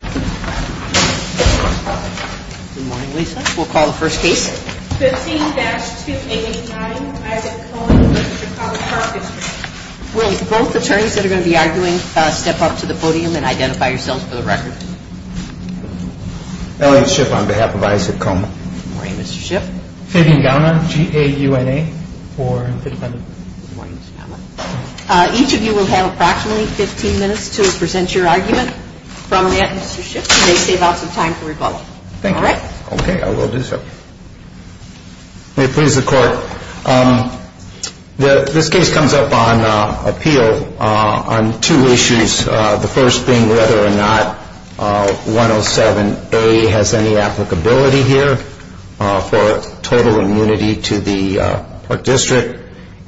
Good morning, Lisa. We'll call the first case. 15-289 Isaac Coma v. Chicago Park District. Will both attorneys that are going to be arguing step up to the podium and identify yourselves for the record. Elliot Shipp on behalf of Isaac Coma. Good morning, Mr. Shipp. Fabian Gauna, G-A-U-N-A. Good morning, Mr. Gauna. Each of you will have approximately 15 minutes to present your argument from that, Mr. Shipp. You may save out some time for rebuttal. Okay, I will do so. May it please the Court, this case comes up on appeal on two issues. The first being whether or not 107A has any applicability here for total immunity to the Park District.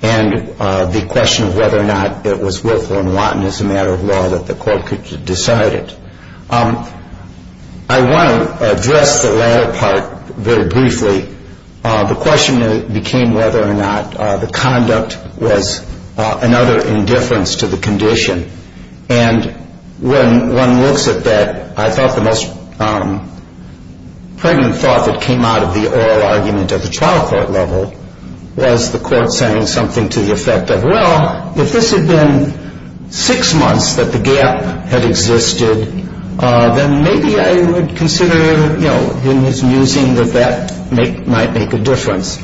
And the question of whether or not it was willful and wanton as a matter of law that the Court could decide it. I want to address the latter part very briefly. The question became whether or not the conduct was another indifference to the condition. And when one looks at that, I thought the most pregnant thought that came out of the oral argument at the trial court level was the Court saying something to the effect of, well, if this had been six months that the gap had existed, then maybe I would consider, you know, using that that might make a difference.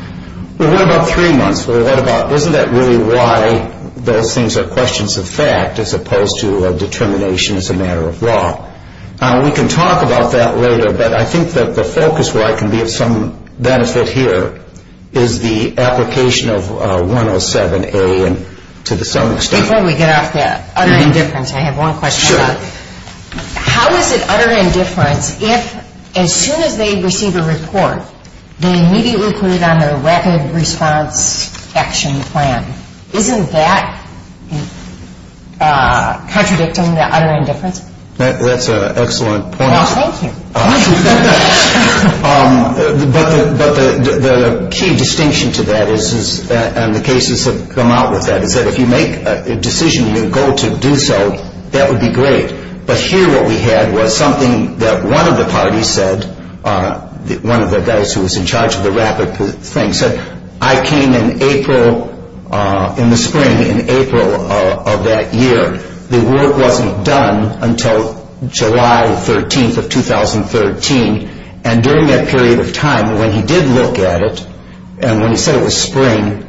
Well, what about three months? Isn't that really why those things are questions of fact as opposed to a determination as a matter of law? We can talk about that later, but I think that the focus where I can be of some benefit here is the application of 107A to some extent. Before we get off that utter indifference, I have one question. Sure. How is it utter indifference if, as soon as they receive a report, they immediately put it on their rapid response action plan? Isn't that contradicting the utter indifference? That's an excellent point. Well, thank you. But the key distinction to that is, and the cases have come out with that, is that if you make a decision, your goal to do so, that would be great. But here what we had was something that one of the parties said, one of the guys who was in charge of the rapid thing, said, I came in April, in the spring, in April of that year. The work wasn't done until July 13th of 2013. And during that period of time, when he did look at it, and when he said it was spring,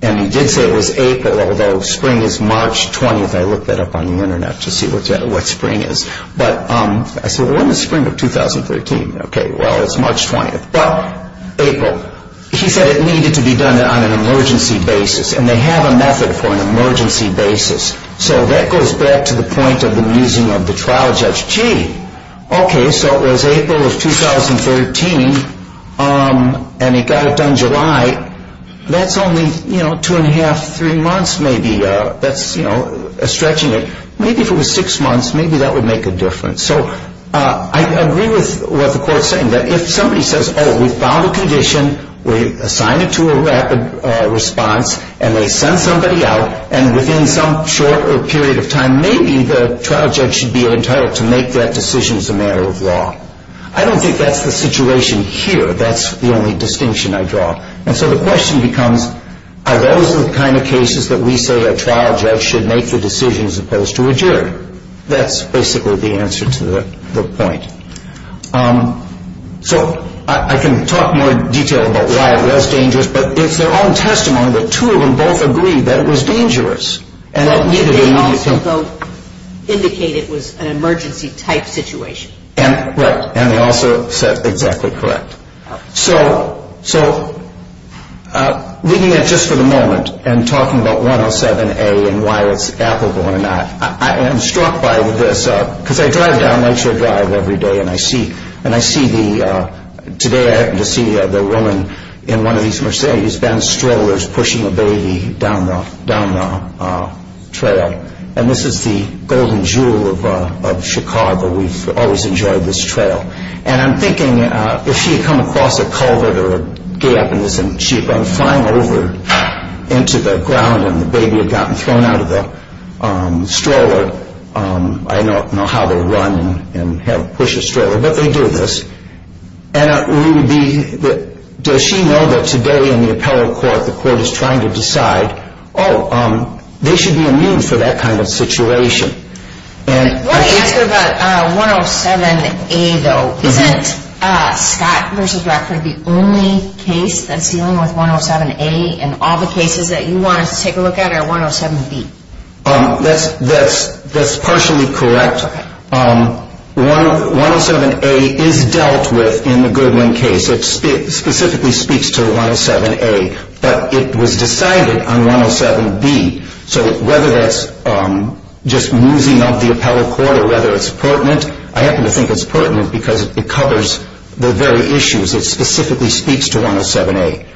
and he did say it was April, although spring is March 20th. I looked that up on the Internet to see what spring is. But I said, well, in the spring of 2013. Okay, well, it's March 20th. Well, April. He said it needed to be done on an emergency basis. And they have a method for an emergency basis. So that goes back to the point of the using of the trial judge. Gee, okay, so it was April of 2013, and it got it done July. That's only, you know, two and a half, three months maybe. That's, you know, stretching it. Maybe if it was six months, maybe that would make a difference. So I agree with what the court is saying, that if somebody says, oh, we found a condition, we assigned it to a rapid response, and they send somebody out, and within some short period of time maybe the trial judge should be entitled to make that decision as a matter of law. I don't think that's the situation here. That's the only distinction I draw. And so the question becomes, are those the kind of cases that we say a trial judge should make the decision as opposed to a juror? That's basically the answer to the point. So I can talk more in detail about why it was dangerous, but it's their own testimony that two of them both agreed that it was dangerous. And that neither of them needed to. They also both indicated it was an emergency-type situation. Right, and they also said exactly correct. So looking at it just for the moment and talking about 107A and why it's applicable or not, I am struck by this because I drive down Lakeshore Drive every day, and I see today I happened to see the woman in one of these Mercedes-Benz strollers pushing a baby down the trail. And this is the golden jewel of Chicago. We've always enjoyed this trail. And I'm thinking if she had come across a culvert or a gap and she had gone flying over into the ground and the baby had gotten thrown out of the stroller, I don't know how they run and push a stroller, but they do this. Does she know that today in the appellate court the court is trying to decide, oh, they should be immune for that kind of situation? I want to ask you about 107A, though. Isn't Scott v. Rockford the only case that's dealing with 107A, and all the cases that you want to take a look at are 107B? That's partially correct. 107A is dealt with in the Goodwin case. It specifically speaks to 107A, but it was decided on 107B. So whether that's just musing of the appellate court or whether it's pertinent, I happen to think it's pertinent because it covers the very issues. It specifically speaks to 107A.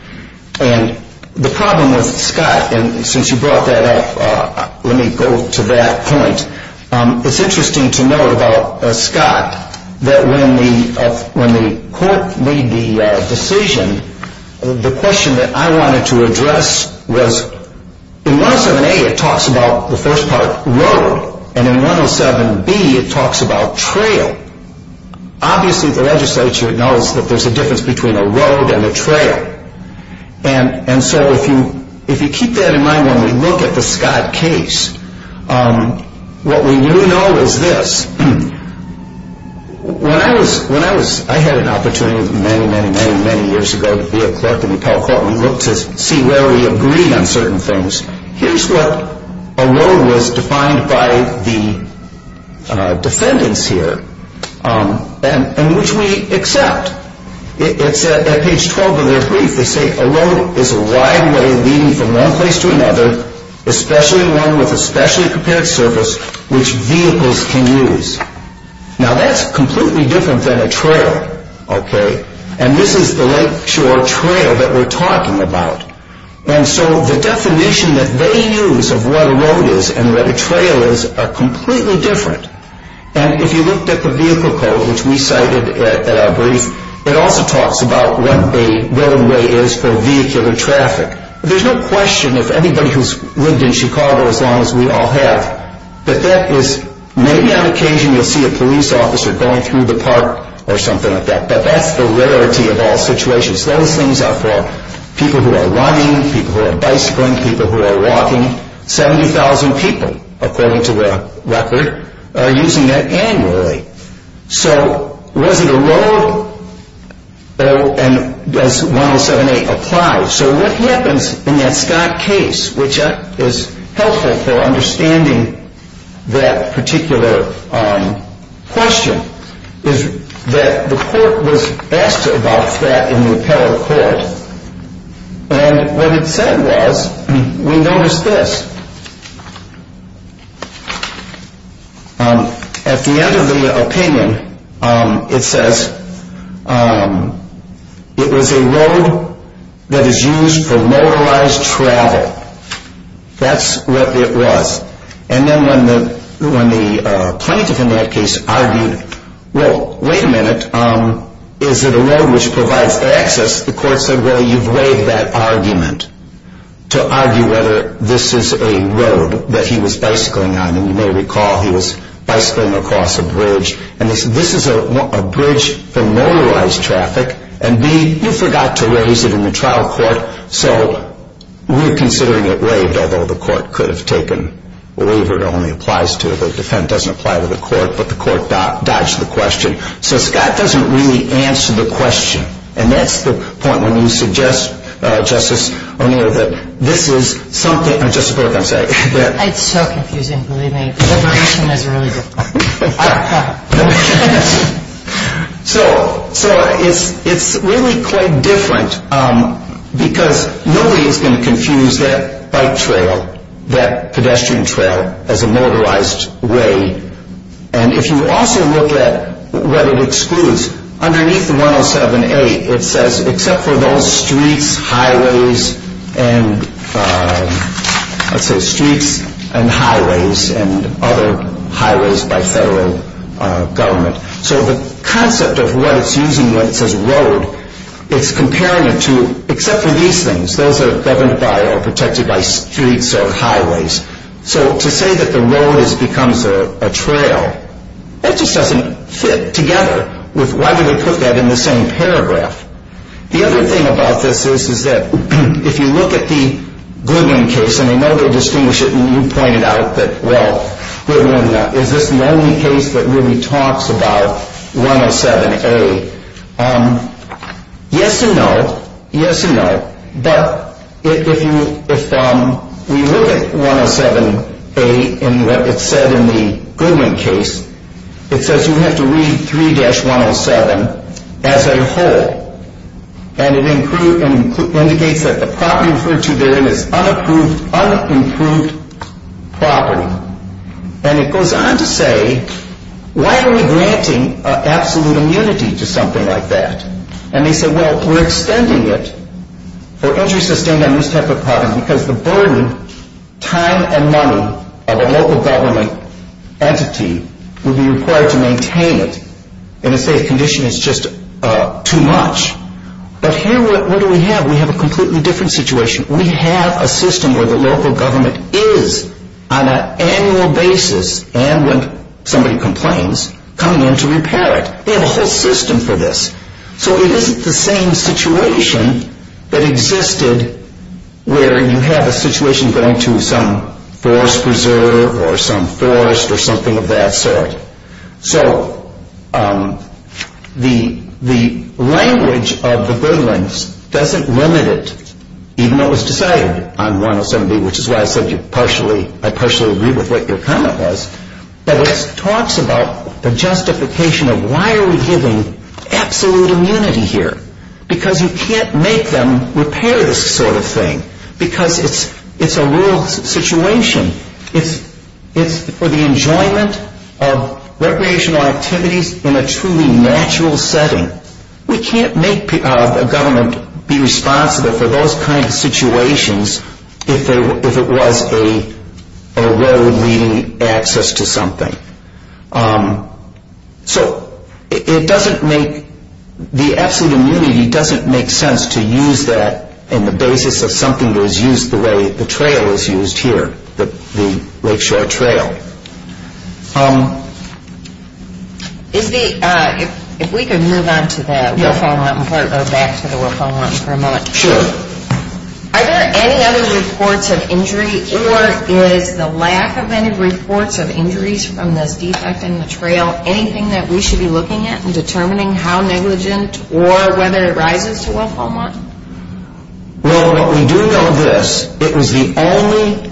And the problem with Scott, and since you brought that up, let me go to that point. It's interesting to note about Scott that when the court made the decision, the question that I wanted to address was in 107A it talks about the first part, road, and in 107B it talks about trail. Obviously the legislature knows that there's a difference between a road and a trail. And so if you keep that in mind when we look at the Scott case, what we do know is this. When I had an opportunity many, many, many, many years ago to be a clerk in the appellate court and look to see where we agreed on certain things, here's what a road was defined by the defendants here, and which we accept. It's at page 12 of their brief. They say a road is a wide way leading from one place to another, especially one with a specially prepared surface which vehicles can use. Now that's completely different than a trail. And this is the lakeshore trail that we're talking about. And so the definition that they use of what a road is and what a trail is are completely different. And if you looked at the vehicle code, which we cited in our brief, it also talks about what a roadway is for vehicular traffic. There's no question if anybody who's lived in Chicago as long as we all have, that that is maybe on occasion you'll see a police officer going through the park or something like that. But that's the rarity of all situations. Those things are for people who are running, people who are bicycling, people who are walking. 70,000 people, according to the record, are using that annually. So was it a road? And does 107A apply? So what happens in that Scott case, which is helpful for understanding that particular question, is that the court was asked about that in the appellate court. And what it said was, we noticed this. At the end of the opinion, it says, it was a road that is used for motorized travel. That's what it was. And then when the plaintiff in that case argued, well, wait a minute, is it a road which provides access? The court said, well, you've waived that argument to argue whether this is a road that he was bicycling on. And you may recall he was bicycling across a bridge. And this is a bridge for motorized traffic. And B, you forgot to raise it in the trial court, so we're considering it waived, although the court could have taken a waiver that only applies to it. The defense doesn't apply to the court, but the court dodged the question. So Scott doesn't really answer the question. And that's the point when you suggest, Justice O'Neill, that this is something – It's so confusing, believe me. Liberation is really difficult. So it's really quite different because nobody is going to confuse that bike trail, that pedestrian trail, as a motorized way. And if you also look at what it excludes, underneath the 107A, it says, except for those streets, highways, and let's say streets and highways and other highways by federal government. So the concept of what it's using when it says road, it's comparing it to – except for these things, those that are governed by or protected by streets or highways. So to say that the road becomes a trail, that just doesn't fit together. Why do they put that in the same paragraph? The other thing about this is that if you look at the Goodwin case, and I know they distinguish it, and you pointed out that, well, is this the only case that really talks about 107A, yes and no, yes and no. But if we look at 107A and what it said in the Goodwin case, it says you have to read 3-107 as a whole. And it indicates that the property referred to therein is unapproved, unimproved property. And it goes on to say, why are we granting absolute immunity to something like that? And they said, well, we're extending it for entry sustained on this type of property because the burden, time, and money of a local government entity would be required to maintain it. And they say the condition is just too much. But here, what do we have? We have a completely different situation. We have a system where the local government is, on an annual basis, and when somebody complains, coming in to repair it. They have a whole system for this. So it isn't the same situation that existed where you have a situation going to some forest preserver or some forest or something of that sort. So the language of the Goodwins doesn't limit it, even though it was decided on 107B, which is why I said I partially agree with what your comment was. But it talks about the justification of why are we giving absolute immunity here? Because you can't make them repair this sort of thing. Because it's a rural situation. It's for the enjoyment of recreational activities in a truly natural setting. We can't make a government be responsible for those kinds of situations if it was a road leading access to something. So it doesn't make, the absolute immunity doesn't make sense to use that in the basis of something that was used the way the trail was used here, the Lakeshore Trail. Is the, if we could move on to the Wilf-O-Montan part, or back to the Wilf-O-Montan for a moment. Sure. Are there any other reports of injury, or is the lack of any reports of injuries from this defect in the trail anything that we should be looking at in determining how negligent or whether it rises to Wilf-O-Montan? Well, what we do know of this, it was the only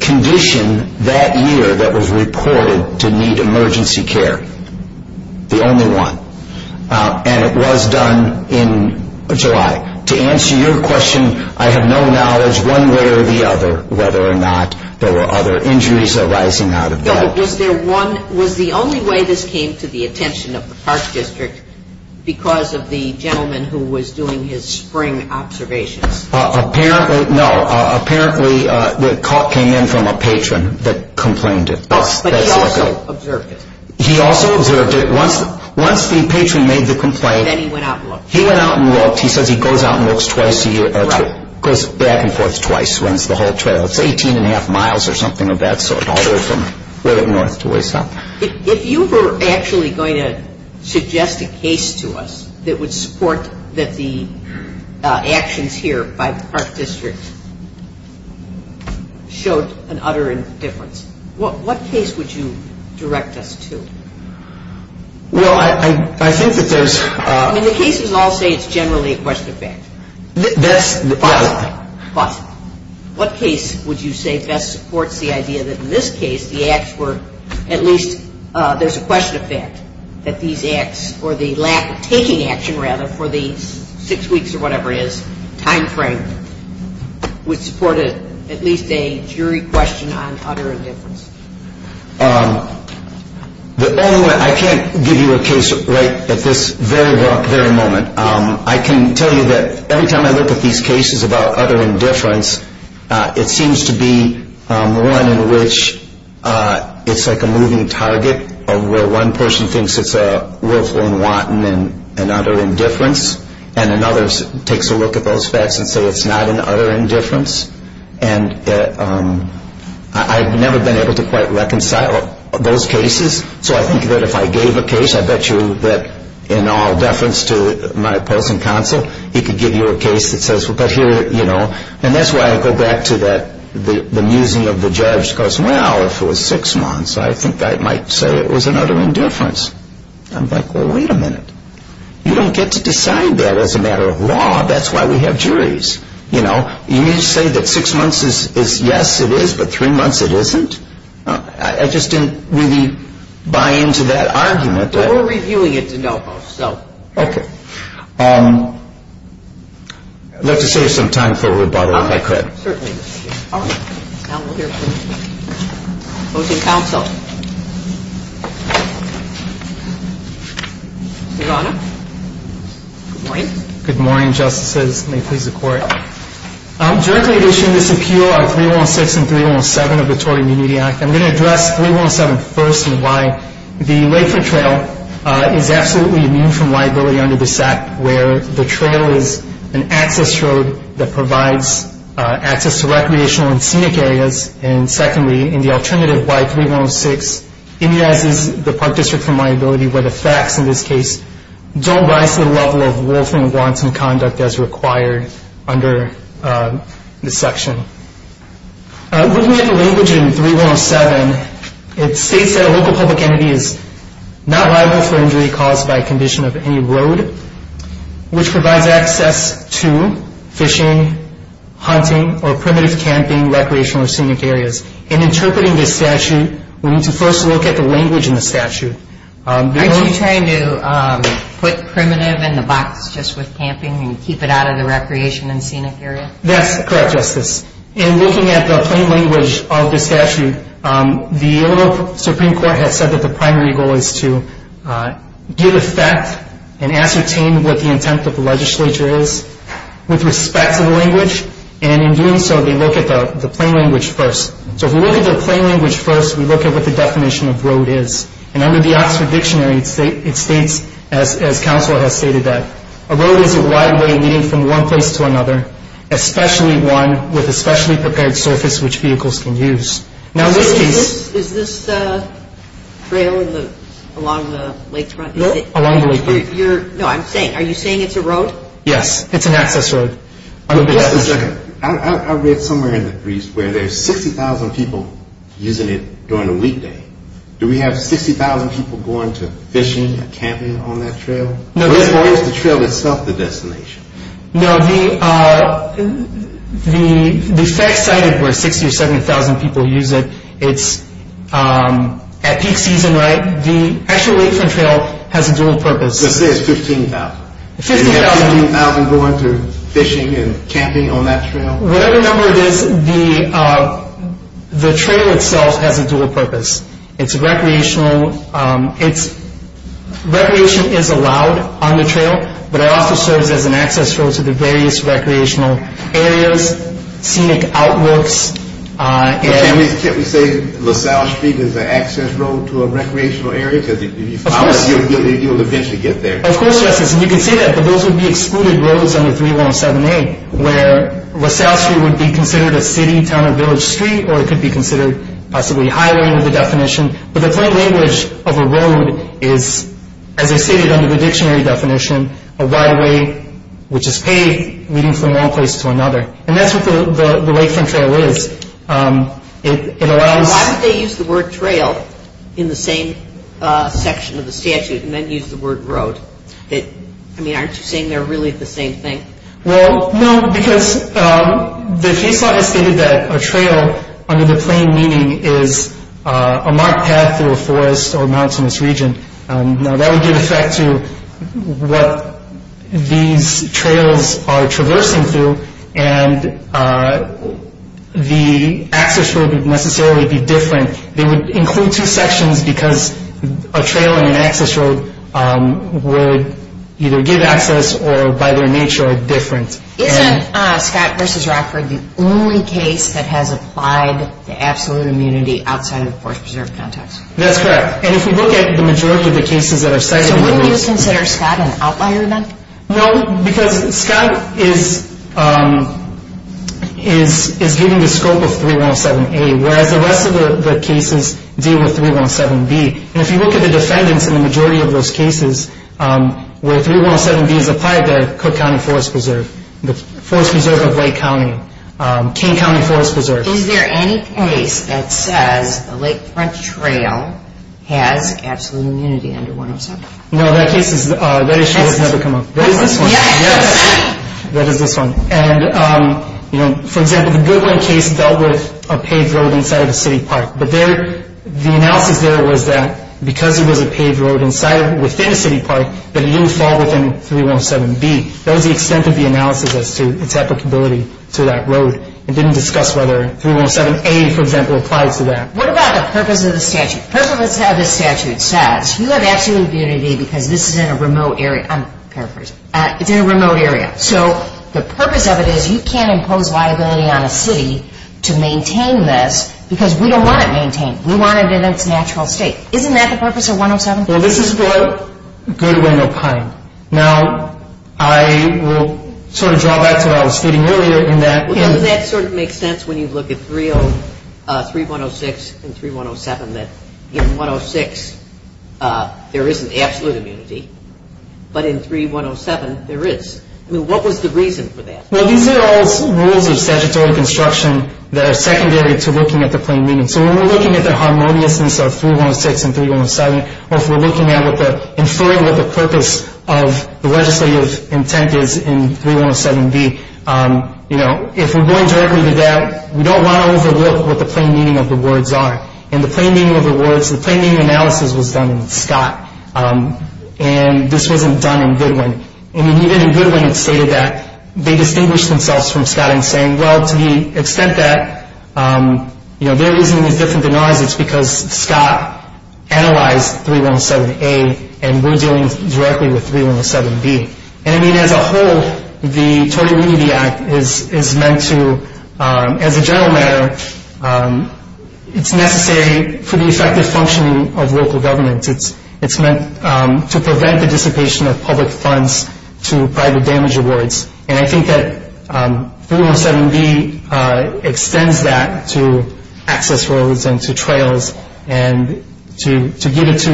condition that year that was reported to need emergency care. The only one. And it was done in July. To answer your question, I have no knowledge one way or the other whether or not there were other injuries arising out of that. Was there one, was the only way this came to the attention of the Park District because of the gentleman who was doing his spring observations? Apparently, no. Apparently the call came in from a patron that complained it. But he also observed it. He also observed it. Once the patron made the complaint. Then he went out and looked. He went out and looked. He says he goes out and looks twice a year. Right. Goes back and forth twice, runs the whole trail. It's 18 and a half miles or something of that sort, all the way from way up north to way south. If you were actually going to suggest a case to us that would support that the actions here by the Park District showed an utter indifference, what case would you direct us to? Well, I think that there's... I mean, the cases all say it's generally a question of fact. That's... Possibly. Possibly. What case would you say best supports the idea that in this case the acts were at least... There's a question of fact that these acts or the lack of taking action, rather, for the six weeks or whatever it is, time frame, would support at least a jury question on utter indifference? The only way... I can't give you a case right at this very moment. I can tell you that every time I look at these cases about utter indifference, it seems to be one in which it's like a moving target of where one person thinks it's a willful and wanton and utter indifference and another takes a look at those facts and say it's not an utter indifference. And I've never been able to quite reconcile those cases. So I think that if I gave a case, I bet you that in all deference to my opposing counsel, he could give you a case that says, but here, you know... And that's why I go back to the musing of the judge because, well, if it was six months, I think I might say it was an utter indifference. I'm like, well, wait a minute. You don't get to decide that as a matter of law. That's why we have juries, you know. You say that six months is yes, it is, but three months it isn't. I just didn't really buy into that argument. But we're reviewing it de novo, so. Okay. I'd love to save some time for rebuttal if I could. Certainly. All right. Now we'll hear from opposing counsel. Your Honor. Good morning. Good morning, Justices. May it please the Court. I'm directly issuing this appeal on 316 and 317 of the Tort Immunity Act. I'm going to address 317 first in why the Lakeford Trail is absolutely immune from liability under this Act, where the trail is an access road that provides access to recreational and scenic areas, and secondly, in the alternative, why 316 immunizes the Park District from liability, where the facts in this case don't rise to the level of wolfing wants and conduct as required under this section. Looking at the language in 317, it states that a local public entity is not liable for injury caused by a condition of any road, which provides access to fishing, hunting, or primitive camping, recreational, or scenic areas. In interpreting this statute, we need to first look at the language in the statute. Aren't you trying to put primitive in the box just with camping and keep it out of the recreation and scenic area? That's correct, Justice. In looking at the plain language of the statute, the Supreme Court has said that the primary goal is to give effect and ascertain what the intent of the legislature is with respect to the language, and in doing so, they look at the plain language first. So if we look at the plain language first, we look at what the definition of road is. And under the Oxford Dictionary, it states, as counsel has stated, that a road is a wide lane leading from one place to another, especially one with a specially prepared surface which vehicles can use. Now, this piece... Is this trail along the lakefront? No, along the lakefront. No, I'm saying, are you saying it's a road? Yes, it's an access road. I read somewhere in the briefs where there's 60,000 people using it during the weekday. Do we have 60,000 people going to fishing or camping on that trail? Or is the trail itself the destination? No, the fact cited where 60,000 or 70,000 people use it, it's at peak season, right? The actual lakefront trail has a dual purpose. Let's say it's 15,000. 15,000. Do we have 15,000 going to fishing and camping on that trail? Whatever number it is, the trail itself has a dual purpose. It's recreational. It's... Recreation is allowed on the trail, but it also serves as an access road to the various recreational areas, scenic outlooks, and... Can't we say LaSalle Street is an access road to a recreational area? Of course. Because if you follow it, you'll eventually get there. Of course, Justice. And you can say that, but those would be excluded roads under 317A, where LaSalle Street would be considered a city, town, or village street, or it could be considered possibly a highway under the definition. But the plain language of a road is, as I stated under the dictionary definition, a wide way which is paved, leading from one place to another. And that's what the lakefront trail is. It allows... Why would they use the word trail in the same section of the statute and then use the word road? I mean, aren't you saying they're really the same thing? Well, no, because the case law has stated that a trail, under the plain meaning, is a marked path through a forest or mountainous region. Now, that would give effect to what these trails are traversing through, and the access road would necessarily be different. They would include two sections because a trail and an access road would either give access or, by their nature, are different. Isn't Scott v. Rockford the only case that has applied the absolute immunity outside of the forest preserve context? That's correct. And if you look at the majority of the cases that are cited... So wouldn't you consider Scott an outlier then? No, because Scott is giving the scope of 317A, whereas the rest of the cases deal with 317B. And if you look at the defendants in the majority of those cases where 317B is applied, they're Cook County Forest Preserve, the Forest Preserve of Lake County, King County Forest Preserve. Is there any case that says the Lake Front Trail has absolute immunity under 107? No, that issue has never come up. That is this one. Yes! That is this one. And, you know, for example, the Goodwin case dealt with a paved road inside of a city park. But the analysis there was that because it was a paved road within a city park, that it didn't fall within 317B. That was the extent of the analysis as to its applicability to that road. It didn't discuss whether 317A, for example, applied to that. What about the purpose of the statute? First of all, this statute says you have absolute immunity because this is in a remote area. I'm paraphrasing. It's in a remote area. So the purpose of it is you can't impose liability on a city to maintain this because we don't want it maintained. We want it in its natural state. Isn't that the purpose of 107? Well, this is for Goodwin or Pine. Now, I will sort of draw back to what I was stating earlier in that. Well, that sort of makes sense when you look at 3106 and 3107, that in 106 there isn't absolute immunity, but in 3107 there is. I mean, what was the reason for that? Well, these are all rules of statutory construction that are secondary to looking at the plain meaning. So when we're looking at the harmoniousness of 3106 and 3107, or if we're looking at inferring what the purpose of the legislative intent is in 3107B, if we're going directly to that, we don't want to overlook what the plain meaning of the words are. In the plain meaning of the words, the plain meaning analysis was done in Scott, and this wasn't done in Goodwin. I mean, even in Goodwin it stated that they distinguished themselves from Scott in saying, well, to the extent that there isn't any different than ours, it's because Scott analyzed 3107A, and we're dealing directly with 3107B. And, I mean, as a whole, the Total Immunity Act is meant to, as a general matter, it's necessary for the effective functioning of local governments. It's meant to prevent the dissipation of public funds to private damage awards, and I think that 3107B extends that to access roads and to trails and to give it to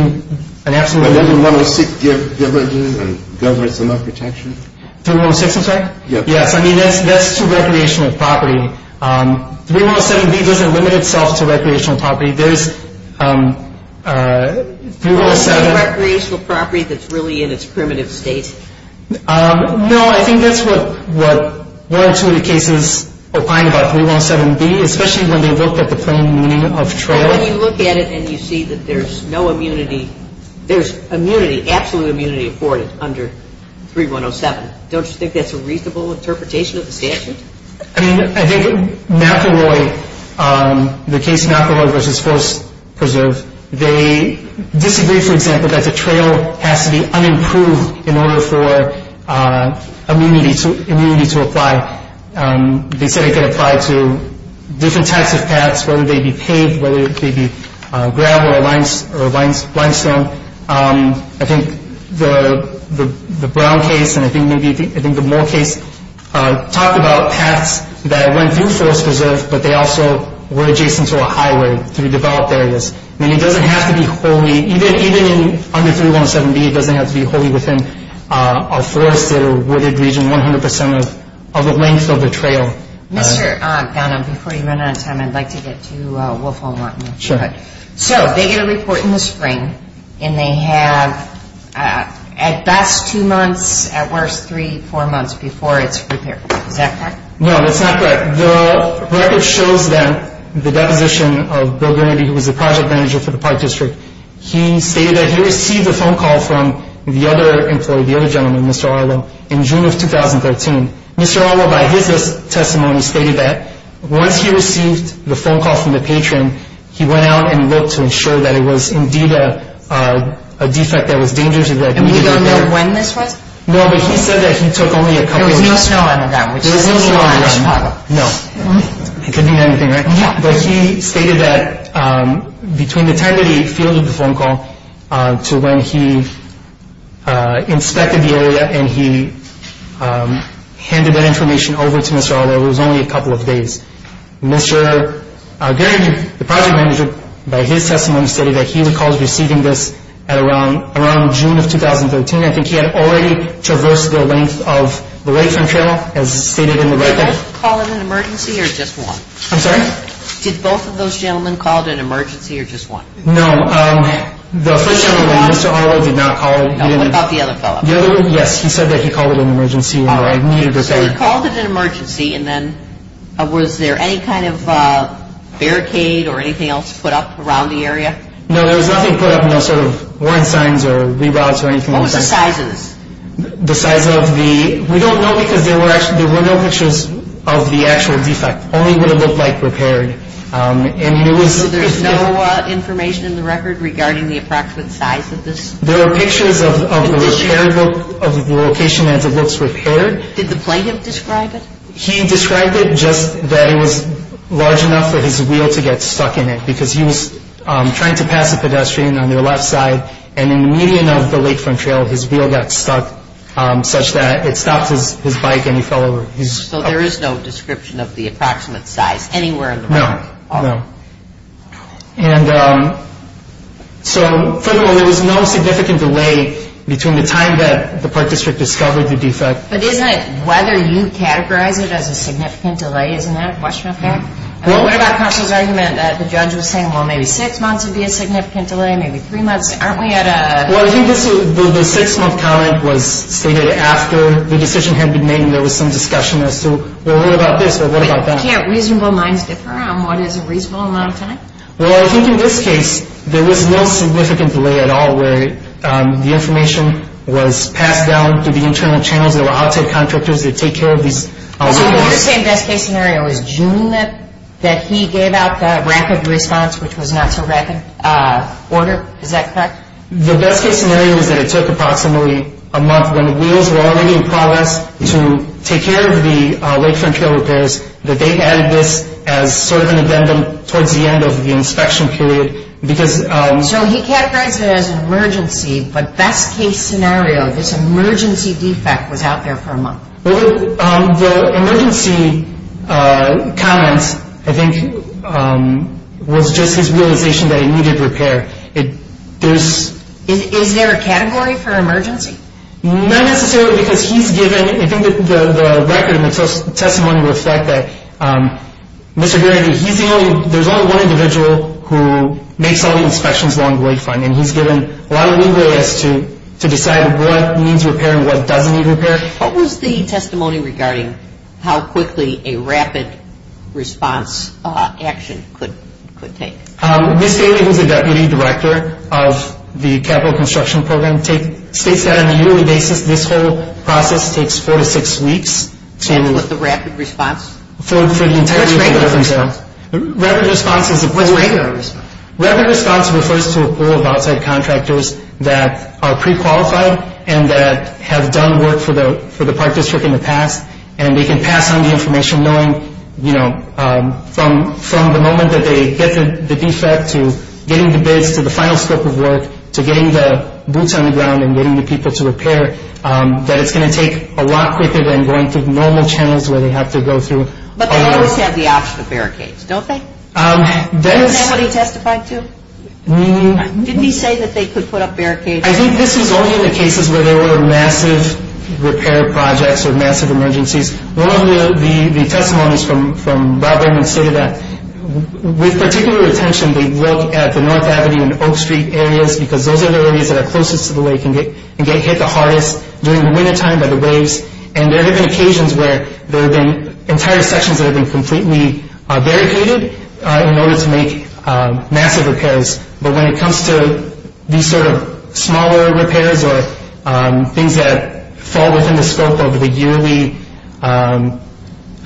an absolute... 3106, I'm sorry? Yes. Yes. I mean, that's to recreational property. 3107B doesn't limit itself to recreational property. There's 3107... Recreational property that's really in its primitive state. No, I think that's what one or two of the cases opine about 3107B, especially when they looked at the plain meaning of trail. When you look at it and you see that there's no immunity, there's immunity, absolute immunity afforded under 3107, don't you think that's a reasonable interpretation of the statute? I mean, I think McElroy, the case McElroy v. Forest Preserve, they disagree, for example, that the trail has to be unimproved in order for immunity to apply. They said it could apply to different types of paths, whether they be paved, whether it could be gravel or limestone. I think the Brown case and I think the Moore case talked about paths that went through Forest Preserve, but they also were adjacent to a highway through developed areas. I mean, it doesn't have to be wholly, even under 3107B, it doesn't have to be wholly within a forested or wooded region 100% of the length of the trail. Mr. Gannon, before you run out of time, I'd like to get to Wolf Hall and Watkins. Sure. So they get a report in the spring and they have at best two months, at worst three, four months before it's repaired. Is that correct? No, that's not correct. The record shows them the deposition of Bill Greenaby, who was the project manager for the Park District. He stated that he received a phone call from the other employee, the other gentleman, Mr. Arlo, in June of 2013. Mr. Arlo, by his testimony, stated that once he received the phone call from the patron, he went out and looked to ensure that it was indeed a defect that was dangerous. And we don't know when this was? No, but he said that he took only a couple of weeks. There was no snow on that, which is a huge problem. No. It could mean anything, right? Yeah. But he stated that between the time that he fielded the phone call to when he inspected the area and he handed that information over to Mr. Arlo, it was only a couple of days. Mr. Greenaby, the project manager, by his testimony, stated that he recalls receiving this at around June of 2013. I think he had already traversed the length of the wait time channel, as stated in the record. Did both call in an emergency or just one? I'm sorry? Did both of those gentlemen call in an emergency or just one? No. The first gentleman, Mr. Arlo, did not call in. What about the other fellow? The other one, yes, he said that he called in an emergency or needed repair. So he called in an emergency and then was there any kind of barricade or anything else put up around the area? No, there was nothing put up, no sort of warrant signs or rebounds or anything like that. What was the sizes? The size of the – we don't know because there were no pictures of the actual defect. Only what it looked like repaired. And it was – So there's no information in the record regarding the approximate size of this? There were pictures of the repair book, of the location as it looks repaired. Did the plaintiff describe it? He described it just that it was large enough for his wheel to get stuck in it because he was trying to pass a pedestrian on their left side and in the median of the lakefront trail his wheel got stuck such that it stopped his bike and he fell over. So there is no description of the approximate size anywhere in the record? No, no. And so furthermore, there was no significant delay between the time that the park district discovered the defect. But isn't it whether you categorize it as a significant delay, isn't that a question of fact? What about counsel's argument that the judge was saying, well, maybe six months would be a significant delay, maybe three months? Aren't we at a – Well, I think the six-month comment was stated after the decision had been made and there was some discussion as to, well, what about this or what about that? Can't reasonable minds differ on what is a reasonable amount of time? Well, I think in this case there was no significant delay at all where the information was passed down through the internal channels. There were outside contractors that take care of these. So the other same best-case scenario is June that he gave out the rapid response, which was not so rapid, order, is that correct? The best-case scenario is that it took approximately a month when wheels were already in progress to take care of the lakefront trail repairs, that they added this as sort of an addendum towards the end of the inspection period because – So he categorized it as an emergency, but best-case scenario, this emergency defect was out there for a month. Well, the emergency comment, I think, was just his realization that it needed repair. Is there a category for emergency? Not necessarily because he's given – I think that the record and the testimony would affect that. Mr. Geary, he's the only – there's only one individual who makes all the inspections along the lakefront, and he's given a lot of leeway as to decide what needs repair and what doesn't need repair. What was the testimony regarding how quickly a rapid response action could take? Ms. Geary, who's the Deputy Director of the Capital Construction Program, states that on a yearly basis this whole process takes four to six weeks to – What's the rapid response? For the entire lakefront trail. What's regular response? Rapid response is a – What's regular response? Rapid response refers to a pool of outside contractors that are pre-qualified and that have done work for the park district in the past, and they can pass on the information knowing, you know, from the moment that they get the defect to getting the bids to the final scope of work to getting the boots on the ground and getting the people to repair, that it's going to take a lot quicker than going through normal channels where they have to go through. But they always have the option of barricades, don't they? That is – Is that what he testified to? Did he say that they could put up barricades? I think this is only in the cases where there were massive repair projects or massive emergencies. One of the testimonies from Rob Raymond stated that with particular attention, they look at the North Avenue and Oak Street areas because those are the areas that are closest to the lake and get hit the hardest during the wintertime by the waves. And there have been occasions where there have been entire sections that have been completely barricaded in order to make massive repairs. But when it comes to these sort of smaller repairs or things that fall within the scope of the yearly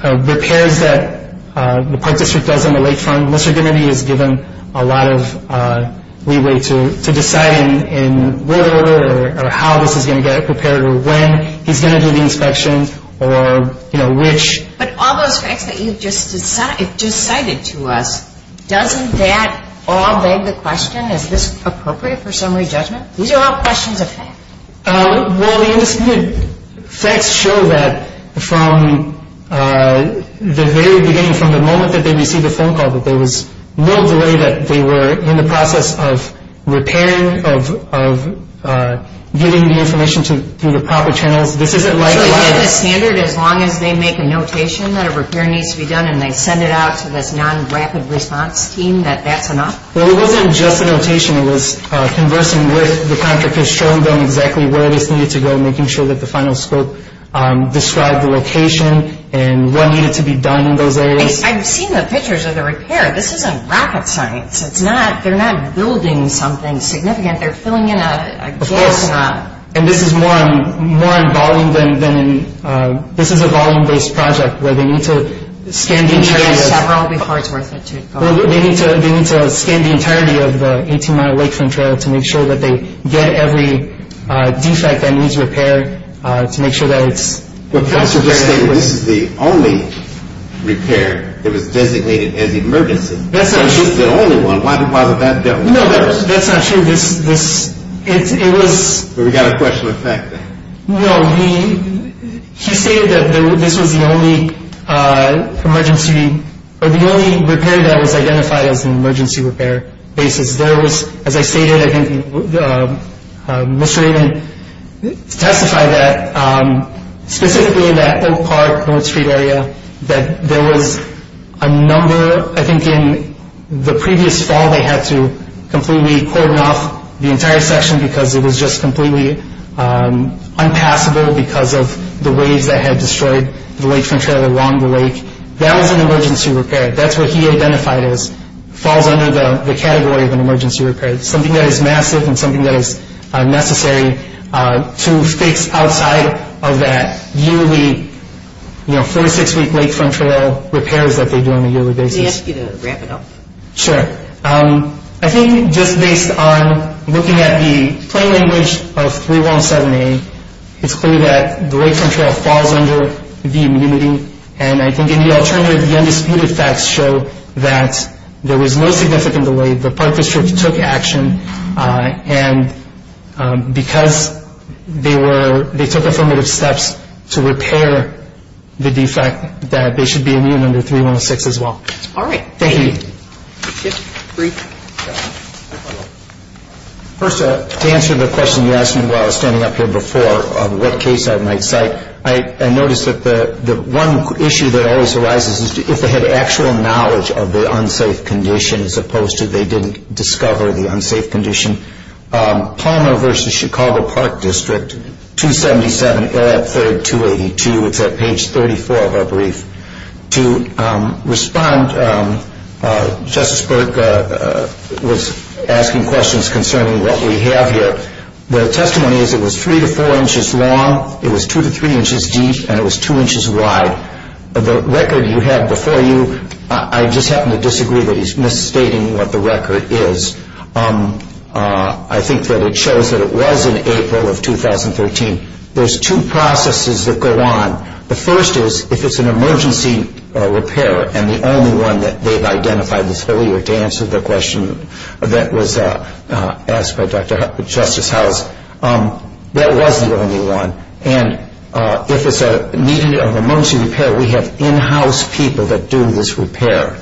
repairs that the Park District does on the lakefront, Mr. Dimity has given a lot of leeway to deciding whether or how this is going to get prepared or when he's going to do the inspection or which. But all those facts that you've just cited to us, doesn't that all beg the question, is this appropriate for summary judgment? These are all questions of fact. Well, the facts show that from the very beginning, from the moment that they received the phone call, that there was no delay, that they were in the process of repairing, of getting the information through the proper channels. This isn't like a standard as long as they make a notation that a repair needs to be done and they send it out to this non-rapid response team, that that's enough? Well, it wasn't just a notation. It was conversing with the contractors, showing them exactly where this needed to go, making sure that the final scope described the location and what needed to be done in those areas. I've seen the pictures of the repair. This isn't rapid science. They're not building something significant. They're filling in a jigsaw. Of course. And this is more in volume than in – this is a volume-based project where they need to scan these areas. Well, they need to scan the entirety of the 18-mile Lakefront Trail to make sure that they get every defect that needs repair to make sure that it's – Well, professor just stated this is the only repair that was designated as emergency. That's not true. This is the only one. Why was that dealt with first? No, that's not true. This – it was – But we've got a question of fact. No, we – he stated that this was the only emergency – or the only repair that was identified as an emergency repair basis. There was – as I stated, I think Mr. Raymond testified that specifically in that Oak Park, North Street area, that there was a number – I think in the previous fall, they had to completely cordon off the entire section because it was just completely unpassable because of the waves that had destroyed the Lakefront Trail along the lake. That was an emergency repair. That's what he identified as falls under the category of an emergency repair, something that is massive and something that is necessary to fix outside of that yearly, you know, 46-week Lakefront Trail repairs that they do on a yearly basis. Can I ask you to wrap it up? Sure. I think just based on looking at the plain language of 3107A, it's clear that the Lakefront Trail falls under the immunity, and I think in the alternative, the undisputed facts show that there was no significant delay. The park district took action, and because they were – they took affirmative steps to repair the defect, that they should be immune under 3106 as well. All right. Thank you. Brief. First, to answer the question you asked me while I was standing up here before, what case I might cite, I noticed that the one issue that always arises is if they had actual knowledge of the unsafe condition as opposed to they didn't discover the unsafe condition. Palmer v. Chicago Park District, 277, area 3, 282. It's at page 34 of our brief. To respond, Justice Burke was asking questions concerning what we have here. The testimony is it was 3 to 4 inches long, it was 2 to 3 inches deep, and it was 2 inches wide. The record you have before you, I just happen to disagree that he's misstating what the record is. I think that it shows that it was in April of 2013. There's two processes that go on. The first is if it's an emergency repair, and the only one that they've identified this whole year to answer the question that was asked by Justice House, that was the only one. And if it's a need of emergency repair, we have in-house people that do this repair.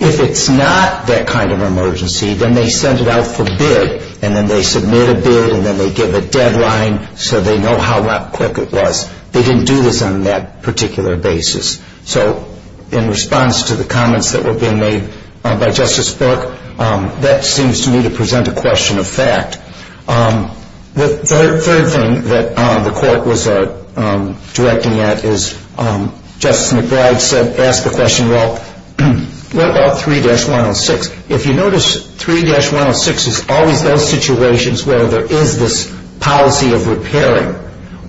If it's not that kind of emergency, then they send it out for bid, and then they submit a bid, and then they give a deadline so they know how quick it was. They didn't do this on that particular basis. So in response to the comments that were being made by Justice Burke, that seems to me to present a question of fact. The third thing that the court was directing at is Justice McBride asked the question, well, what about 3-106? If you notice, 3-106 is always those situations where there is this policy of repairing,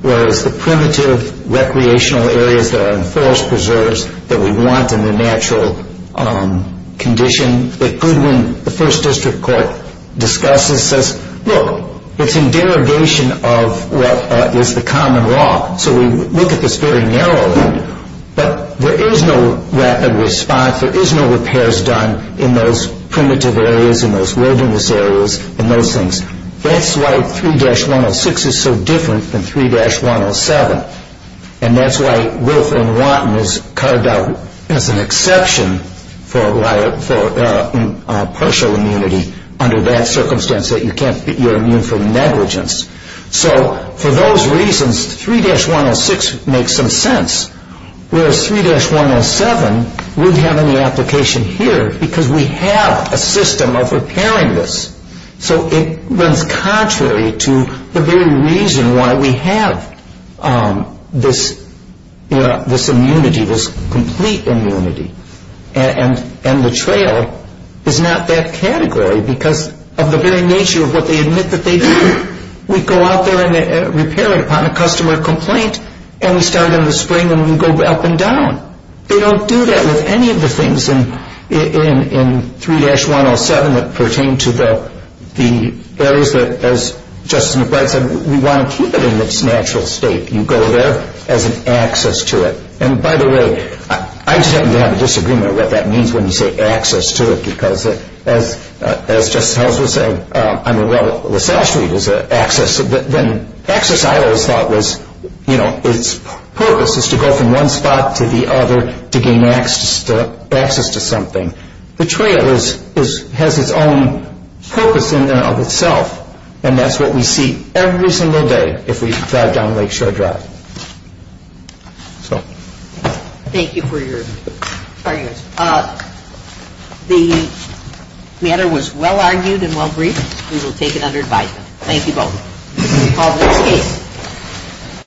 whereas the primitive recreational areas that are in forest preserves that we want in the natural condition that Goodwin, the First District Court, discusses says, look, it's in derogation of what is the common law. So we look at this very narrowly, but there is no rapid response. There is no repairs done in those primitive areas, in those wilderness areas, in those things. That's why 3-106 is so different than 3-107. And that's why Wilf and Wanton was carved out as an exception for partial immunity under that circumstance that you're immune from negligence. So for those reasons, 3-106 makes some sense, whereas 3-107 wouldn't have any application here because we have a system of repairing this. So it runs contrary to the very reason why we have this immunity, this complete immunity. And the trail is not that category because of the very nature of what they admit that they do. We go out there and repair it upon a customer complaint, and we start in the spring and we go up and down. They don't do that with any of the things in 3-107 that pertain to the areas that, as Justice McBride said, we want to keep it in its natural state. You go there as an access to it. And, by the way, I just happen to have a disagreement what that means when you say access to it because, as Justice Houser said, I mean, well, the South Street is an access. Access, I always thought was, you know, its purpose is to go from one spot to the other to gain access to something. The trail has its own purpose in and of itself. And that's what we see every single day if we drive down Lake Shore Drive. Thank you for your arguments. The matter was well-argued and well-briefed. We will take it under advisement. Thank you both. This is a positive case.